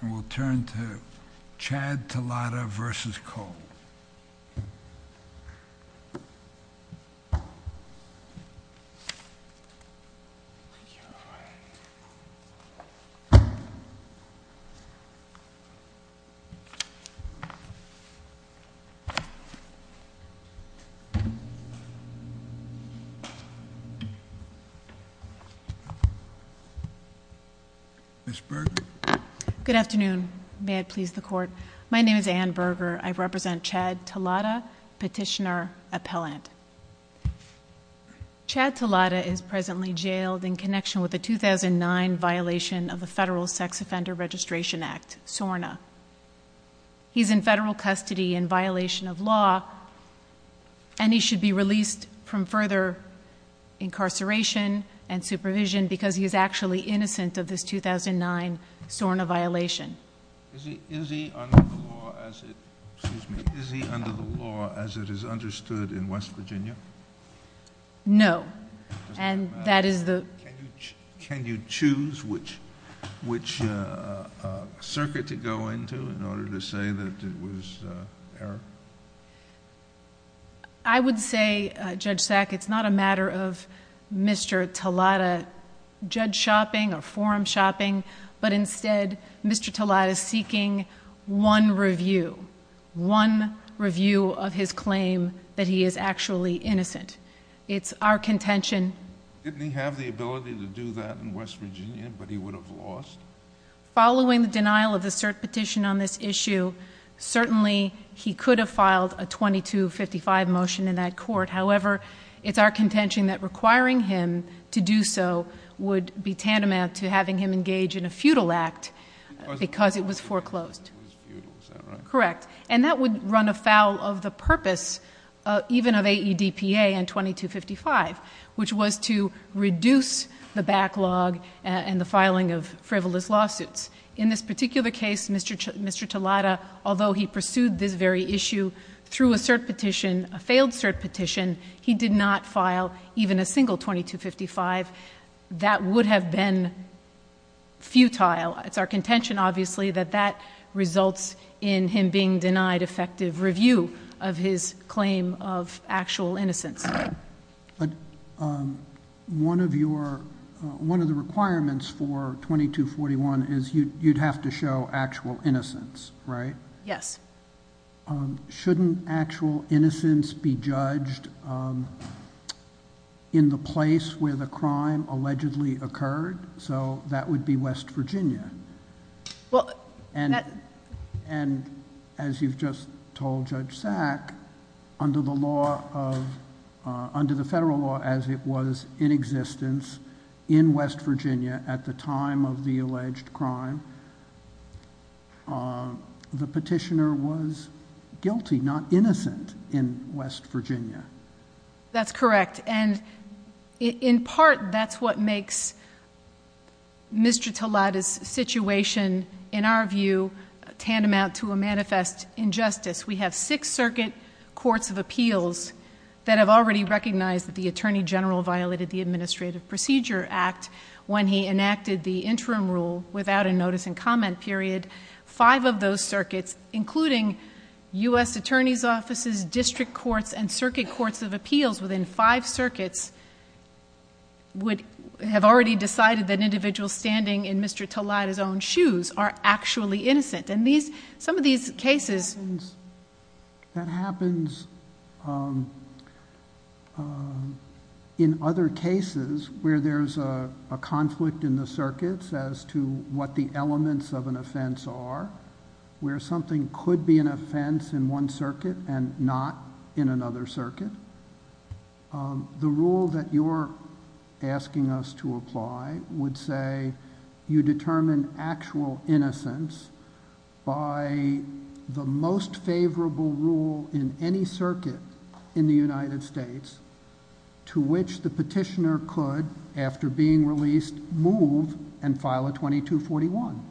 And we'll turn to Chad Talada v. Cole. Ms. Berger? Good afternoon. May it please the Court. My name is Anne Berger. I represent Chad Talada, Petitioner-Appellant. Chad Talada is presently jailed in connection with a 2009 violation of the Federal Sex Offender Registration Act, SORNA. He's in federal custody in violation of law, and he should be released from further incarceration and supervision because he is actually innocent of this 2009 SORNA violation. Is he under the law as it is understood in West Virginia? No. Can you choose which circuit to go into in order to say that it was error? I would say, Judge Sack, it's not a matter of Mr. Talada judge shopping or forum shopping, but instead, Mr. Talada is seeking one review, one review of his claim that he is actually innocent. It's our contention... Didn't he have the ability to do that in West Virginia, but he would have lost? Following the denial of the cert petition on this issue, certainly he could have filed a 2255 motion in that court. However, it's our contention that requiring him to do so would be tantamount to having him engage in a feudal act because it was foreclosed. Correct. And that would run afoul of the purpose even of AEDPA and 2255, which was to reduce the In this particular case, Mr. Talada, although he pursued this very issue through a cert petition, a failed cert petition, he did not file even a single 2255. That would have been futile. It's our contention, obviously, that that results in him being denied effective review of his claim of actual innocence. One of the requirements for 2241 is you'd have to show actual innocence, right? Yes. Shouldn't actual innocence be judged in the place where the crime allegedly occurred? That would be West Virginia. And as you've just told Judge Sack, under the federal law as it was in existence in West Virginia at the time of the alleged crime, the petitioner was guilty, not innocent, in West Virginia. That's correct. And in part, that's what makes Mr. Talada's situation, in our view, tantamount to a manifest injustice. We have six circuit courts of appeals that have already recognized that the attorney general violated the Administrative Procedure Act when he enacted the interim rule without a notice and comment period. Five of those circuits, including U.S. attorneys' offices, district courts, and circuit courts of appeals within five circuits have already decided that individuals standing in Mr. Talada's own shoes are actually innocent. And some of these cases... That happens in other cases where there's a conflict in the circuits as to what the elements of an offense are, where something could be an offense in one circuit and not in another circuit. The rule that you're asking us to apply would say you determine actual innocence by the most favorable rule in any circuit in the United States to which the petitioner could, after being released, move and file a 2241.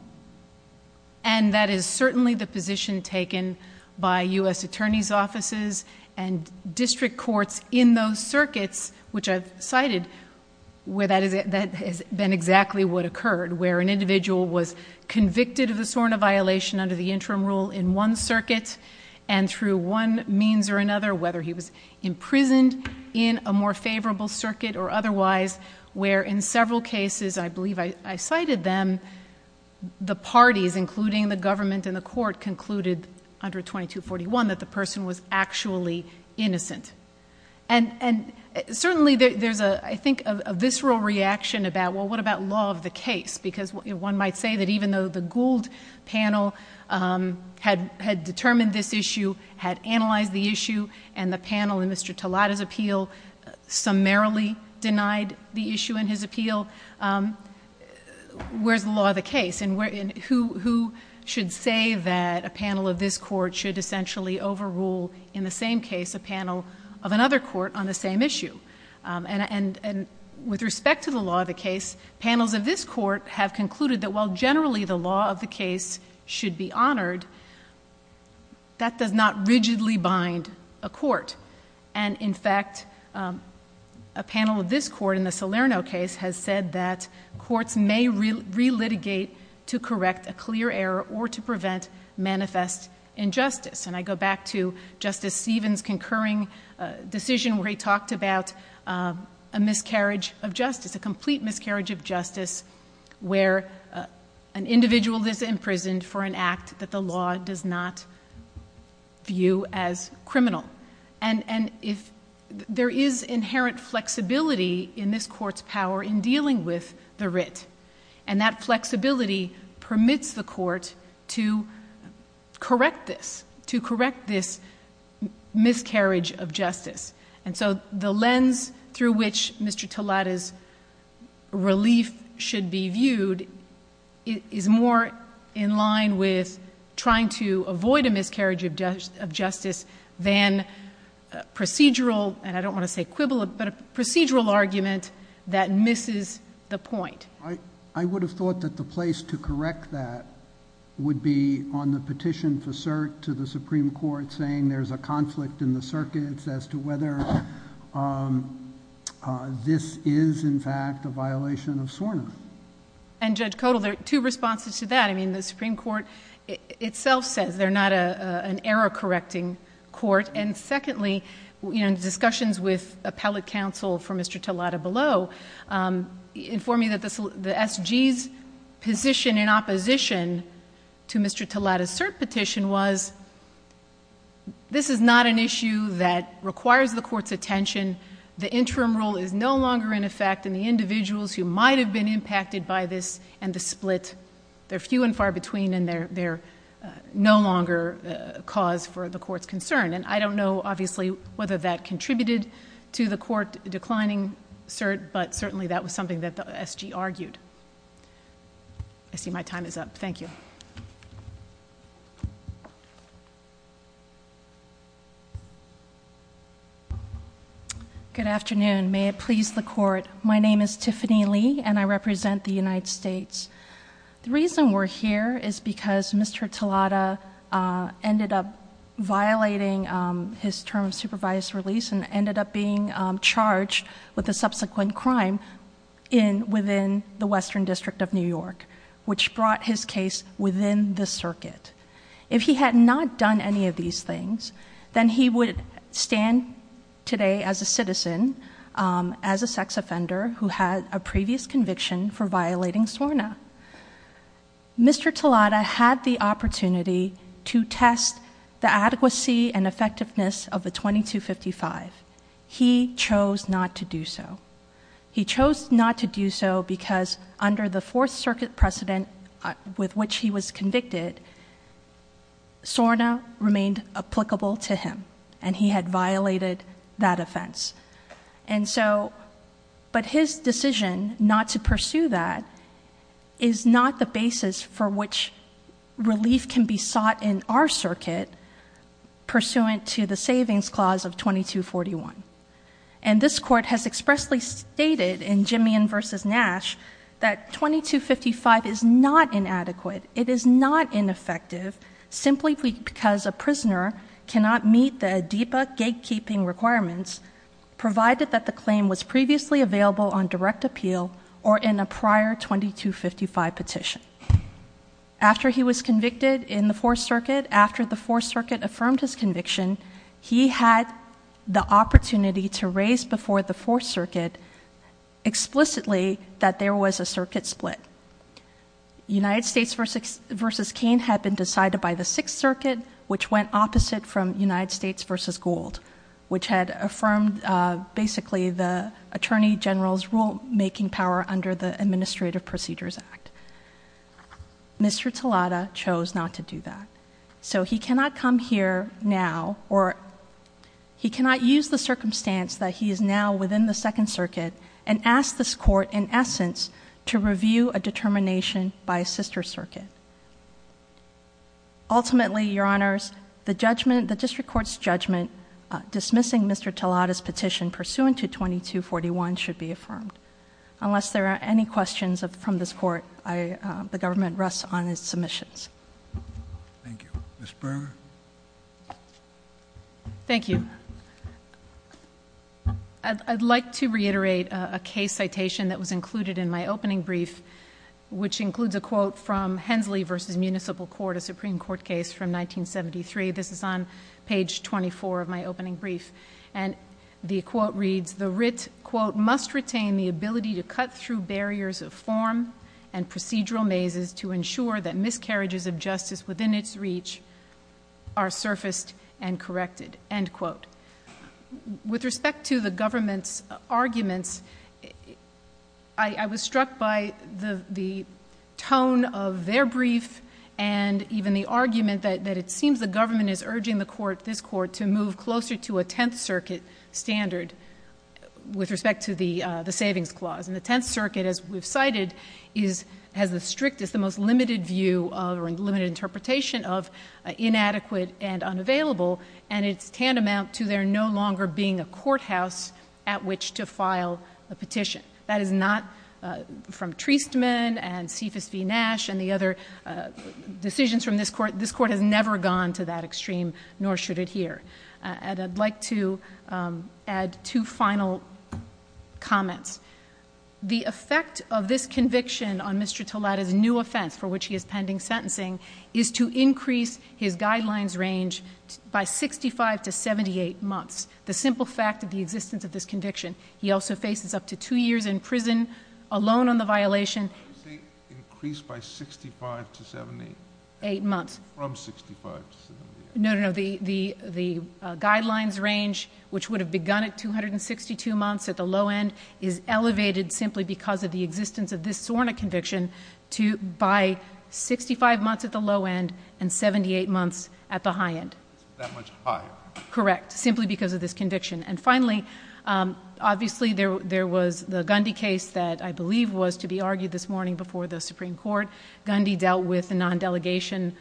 And that is certainly the position taken by U.S. attorneys' offices and district courts in those circuits, which I've cited, where that has been exactly what occurred, where an individual was convicted of a sort of violation under the interim rule in one circuit and through one means or another, whether he was imprisoned in a more favorable circuit or otherwise, where in several cases, I believe I cited them, the parties, including the government and the court, concluded under 2241 that the person was actually innocent. And certainly there's, I think, a visceral reaction about, well, what about law of the case? Because one might say that even though the Gould panel had determined this issue, had analyzed the issue, and the panel in Mr. Talata's appeal summarily denied the issue in his appeal, where's the law of the case? And who should say that a panel of this court should essentially overrule, in the same case, a panel of another court on the same issue? And with respect to the law of the case, panels of this court have concluded that, while generally the law of the case should be honored, that does not rigidly bind a court. And in fact, a panel of this court in the Salerno case has said that courts may relitigate to correct a clear error or to prevent manifest injustice. And I go back to Justice Stevens' concurring decision where he talked about a miscarriage of justice, where an individual is imprisoned for an act that the law does not view as criminal. And there is inherent flexibility in this court's power in dealing with the writ. And that flexibility permits the court to correct this, to correct this miscarriage of justice. And so the lens through which Mr. Talata's relief should be viewed is more in line with trying to avoid a miscarriage of justice than procedural, and I don't want to say quibble, but a procedural argument that misses the point. I would have thought that the place to correct that would be on the petition for cert to the Supreme Court saying there's a conflict in the circuits as to whether this is, in fact, a violation of SORNA. And Judge Kodal, there are two responses to that. I mean, the Supreme Court itself says they're not an error-correcting court. And secondly, in discussions with appellate counsel for Mr. Talata below, informed me that the SG's position in opposition to Mr. Talata's cert petition was this is not an issue that requires the court's attention. The interim rule is no longer in effect, and the individuals who might have been impacted by this and the split, they're few and far between, and they're no longer a cause for the court's concern. And I don't know, obviously, whether that contributed to the court declining cert, but certainly that was something that the SG argued. I see my time is up. Thank you. Good afternoon. May it please the court. My name is Tiffany Lee, and I represent the United States. The reason we're here is because Mr. Talata ended up violating his term of supervised release, and ended up being charged with a subsequent crime within the Western District of New York, which brought his case within the circuit. If he had not done any of these things, then he would stand today as a citizen, as a sex offender who had a previous conviction for violating SORNA. Mr. Talata had the opportunity to test the adequacy and effectiveness of the 2255. He chose not to do so. He chose not to do so because under the Fourth Circuit precedent with which he was convicted, SORNA remained applicable to him, and he had violated that offense. But his decision not to pursue that is not the basis for which relief can be sought in our circuit pursuant to the Savings Clause of 2241. And this court has expressly stated in Jimmian v. Nash that 2255 is not inadequate. It is not ineffective simply because a prisoner cannot meet the ADEPA gatekeeping requirements, provided that the claim was previously available on direct appeal, or in a prior 2255 petition. After he was convicted in the Fourth Circuit, after the Fourth Circuit affirmed his conviction, he had the opportunity to raise before the Fourth Circuit explicitly that there was a circuit split. United States v. Cain had been decided by the Sixth Circuit, which went opposite from United States v. Gould, which had affirmed basically the Attorney General's rulemaking power under the Administrative Procedures Act. Mr. Talata chose not to do that. So he cannot come here now, or he cannot use the circumstance that he is now within the Second Circuit, and ask this court, in essence, to review a determination by a sister circuit. Ultimately, Your Honors, the district court's judgment dismissing Mr. Talata's petition pursuant to 2241 should be affirmed. Unless there are any questions from this court, the government rests on its submissions. Thank you. Ms. Berger? Thank you. I'd like to reiterate a case citation that was included in my opening brief, which includes a quote from Hensley v. Municipal Court, a Supreme Court case from 1973. This is on page 24 of my opening brief. And the quote reads, The writ, quote, must retain the ability to cut through barriers of form and procedural mazes to ensure that miscarriages of justice within its reach are surfaced and corrected, end quote. With respect to the government's arguments, I was struck by the tone of their brief, and even the argument that it seems the government is urging the court, this court, to move closer to a Tenth Circuit standard with respect to the Savings Clause. And the Tenth Circuit, as we've cited, has the strictest, the most limited view, or limited interpretation of inadequate and unavailable, and it's tantamount to there no longer being a courthouse at which to file a petition. That is not from Treastman and Cephas v. Nash and the other decisions from this court. This court has never gone to that extreme, nor should it here. And I'd like to add two final comments. The effect of this conviction on Mr. Tolada's new offense, for which he is pending sentencing, is to increase his guidelines range by 65 to 78 months. The simple fact of the existence of this conviction. He also faces up to two years in prison alone on the violation. Increase by 65 to 78? Eight months. From 65 to 78. No, no, no. The guidelines range, which would have begun at 262 months at the low end, is elevated simply because of the existence of this SORNA conviction by 65 months at the low end and 78 months at the high end. That much higher. Correct. Simply because of this conviction. And finally, obviously there was the Gundy case that I believe was to be argued this morning before the Supreme Court. Gundy dealt with the non-delegation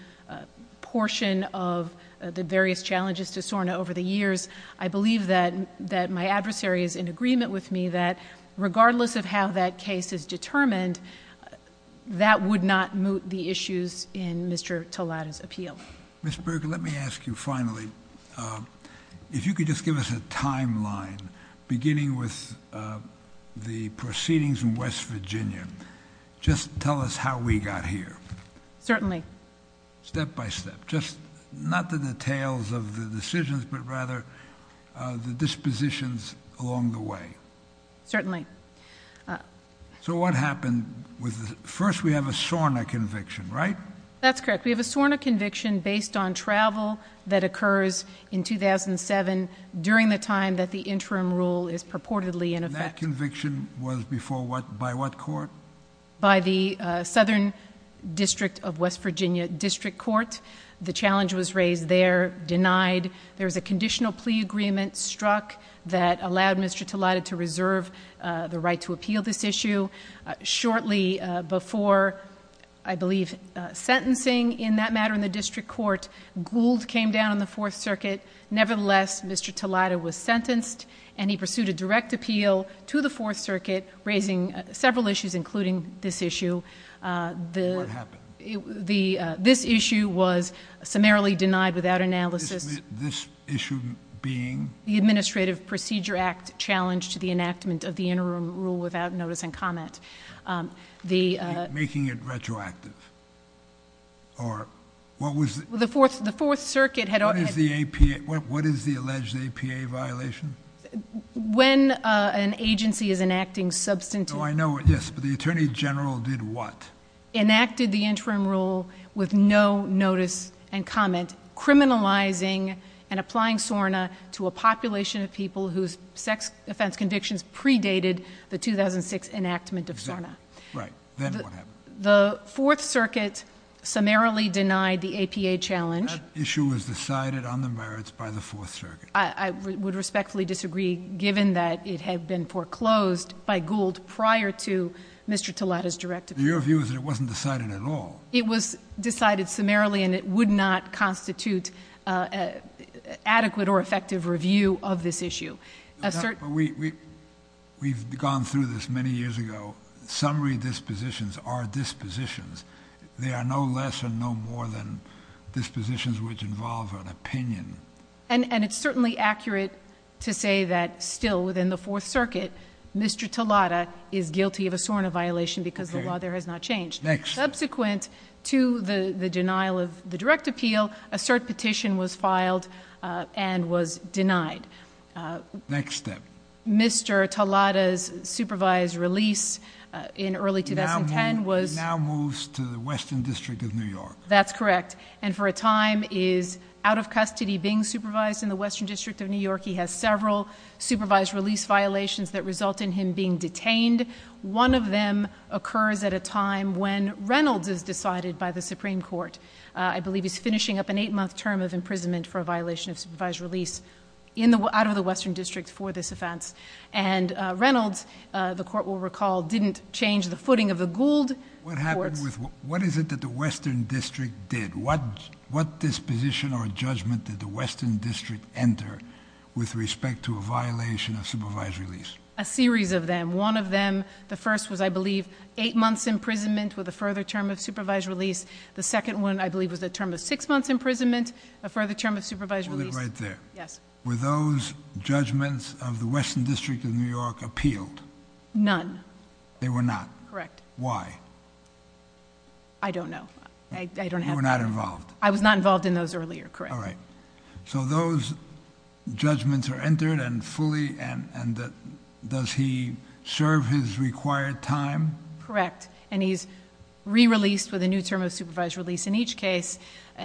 portion of the various challenges to SORNA over the years. I believe that my adversary is in agreement with me that regardless of how that case is determined, that would not moot the issues in Mr. Tolada's appeal. Ms. Berger, let me ask you finally, if you could just give us a timeline, beginning with the proceedings in West Virginia, just tell us how we got here. Certainly. Step by step. Just not the details of the decisions, but rather the dispositions along the way. Certainly. So what happened? First, we have a SORNA conviction, right? That's correct. We have a SORNA conviction based on travel that occurs in 2007 during the time that the interim rule is purportedly in effect. And that conviction was before what? By what court? By the Southern District of West Virginia District Court. The challenge was raised there, denied. There was a conditional plea agreement struck that allowed Mr. Tolada to reserve the right to appeal this issue. Shortly before, I believe, sentencing in that matter in the district court, Gould came down on the Fourth Circuit. Nevertheless, Mr. Tolada was sentenced and he pursued a direct appeal to the Fourth Circuit, raising several issues, including this issue. What happened? This issue was summarily denied without analysis. This issue being? The Administrative Procedure Act challenge to the enactment of the interim rule without notice and comment. Making it retroactive? The Fourth Circuit had already. What is the alleged APA violation? When an agency is enacting substantive. Oh, I know. Yes, but the Attorney General did what? Enacted the interim rule with no notice and comment, criminalizing and applying SORNA to a population of people whose sex offense convictions predated the 2006 enactment of SORNA. Right. Then what happened? The Fourth Circuit summarily denied the APA challenge. That issue was decided on the merits by the Fourth Circuit. I would respectfully disagree, given that it had been foreclosed by Gould prior to Mr. Tolada's direct appeal. Your view is that it wasn't decided at all? It was decided summarily and it would not constitute adequate or effective review of this issue. We've gone through this many years ago. Summary dispositions are dispositions. They are no less and no more than dispositions which involve an opinion. And it's certainly accurate to say that still within the Fourth Circuit, Mr. Tolada is guilty of a SORNA violation because the law there has not changed. Next. Subsequent to the denial of the direct appeal, a cert petition was filed and was denied. Next step. Mr. Tolada's supervised release in early 2010 was. Now moves to the Western District of New York. That's correct. And for a time is out of custody being supervised in the Western District of New York. He has several supervised release violations that result in him being detained. One of them occurs at a time when Reynolds is decided by the Supreme Court. I believe he's finishing up an eight-month term of imprisonment for a violation of supervised release out of the Western District for this offense. And Reynolds, the court will recall, didn't change the footing of the Gould courts. What happened with, what is it that the Western District did? What disposition or judgment did the Western District enter with respect to a violation of supervised release? A series of them. One of them, the first was, I believe, eight months imprisonment with a further term of supervised release. The second one, I believe, was a term of six months imprisonment, a further term of supervised release. Hold it right there. Yes. Were those judgments of the Western District of New York appealed? None. They were not. Correct. Why? I don't know. You were not involved. I was not involved in those earlier. Correct. All right. So those judgments are entered and fully, and does he serve his required time? Correct. And he's re-released with a new term of supervised release in each case.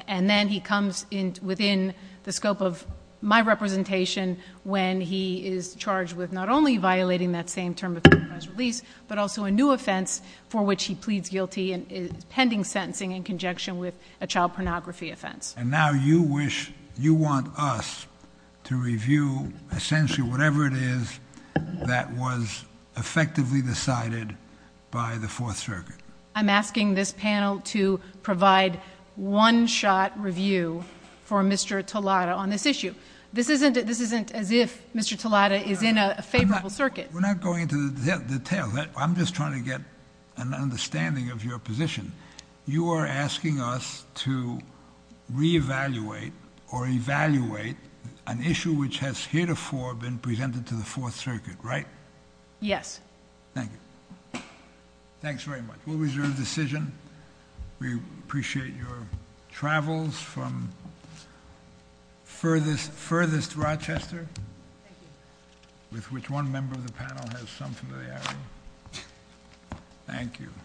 And then he comes within the scope of my representation when he is charged with not only violating that same term of supervised release, but also a new offense for which he pleads guilty and is pending sentencing in conjecture with a child pornography offense. And now you wish, you want us to review essentially whatever it is that was effectively decided by the Fourth Circuit. I'm asking this panel to provide one-shot review for Mr. Talata on this issue. This isn't as if Mr. Talata is in a favorable circuit. We're not going into the details. I'm just trying to get an understanding of your position. You are asking us to re-evaluate or evaluate an issue which has heretofore been presented to the Fourth Circuit, right? Yes. Thank you. Thanks very much. We'll reserve the decision. We appreciate your travels from furthest Rochester. Thank you. With which one member of the panel has some familiarity. Thank you.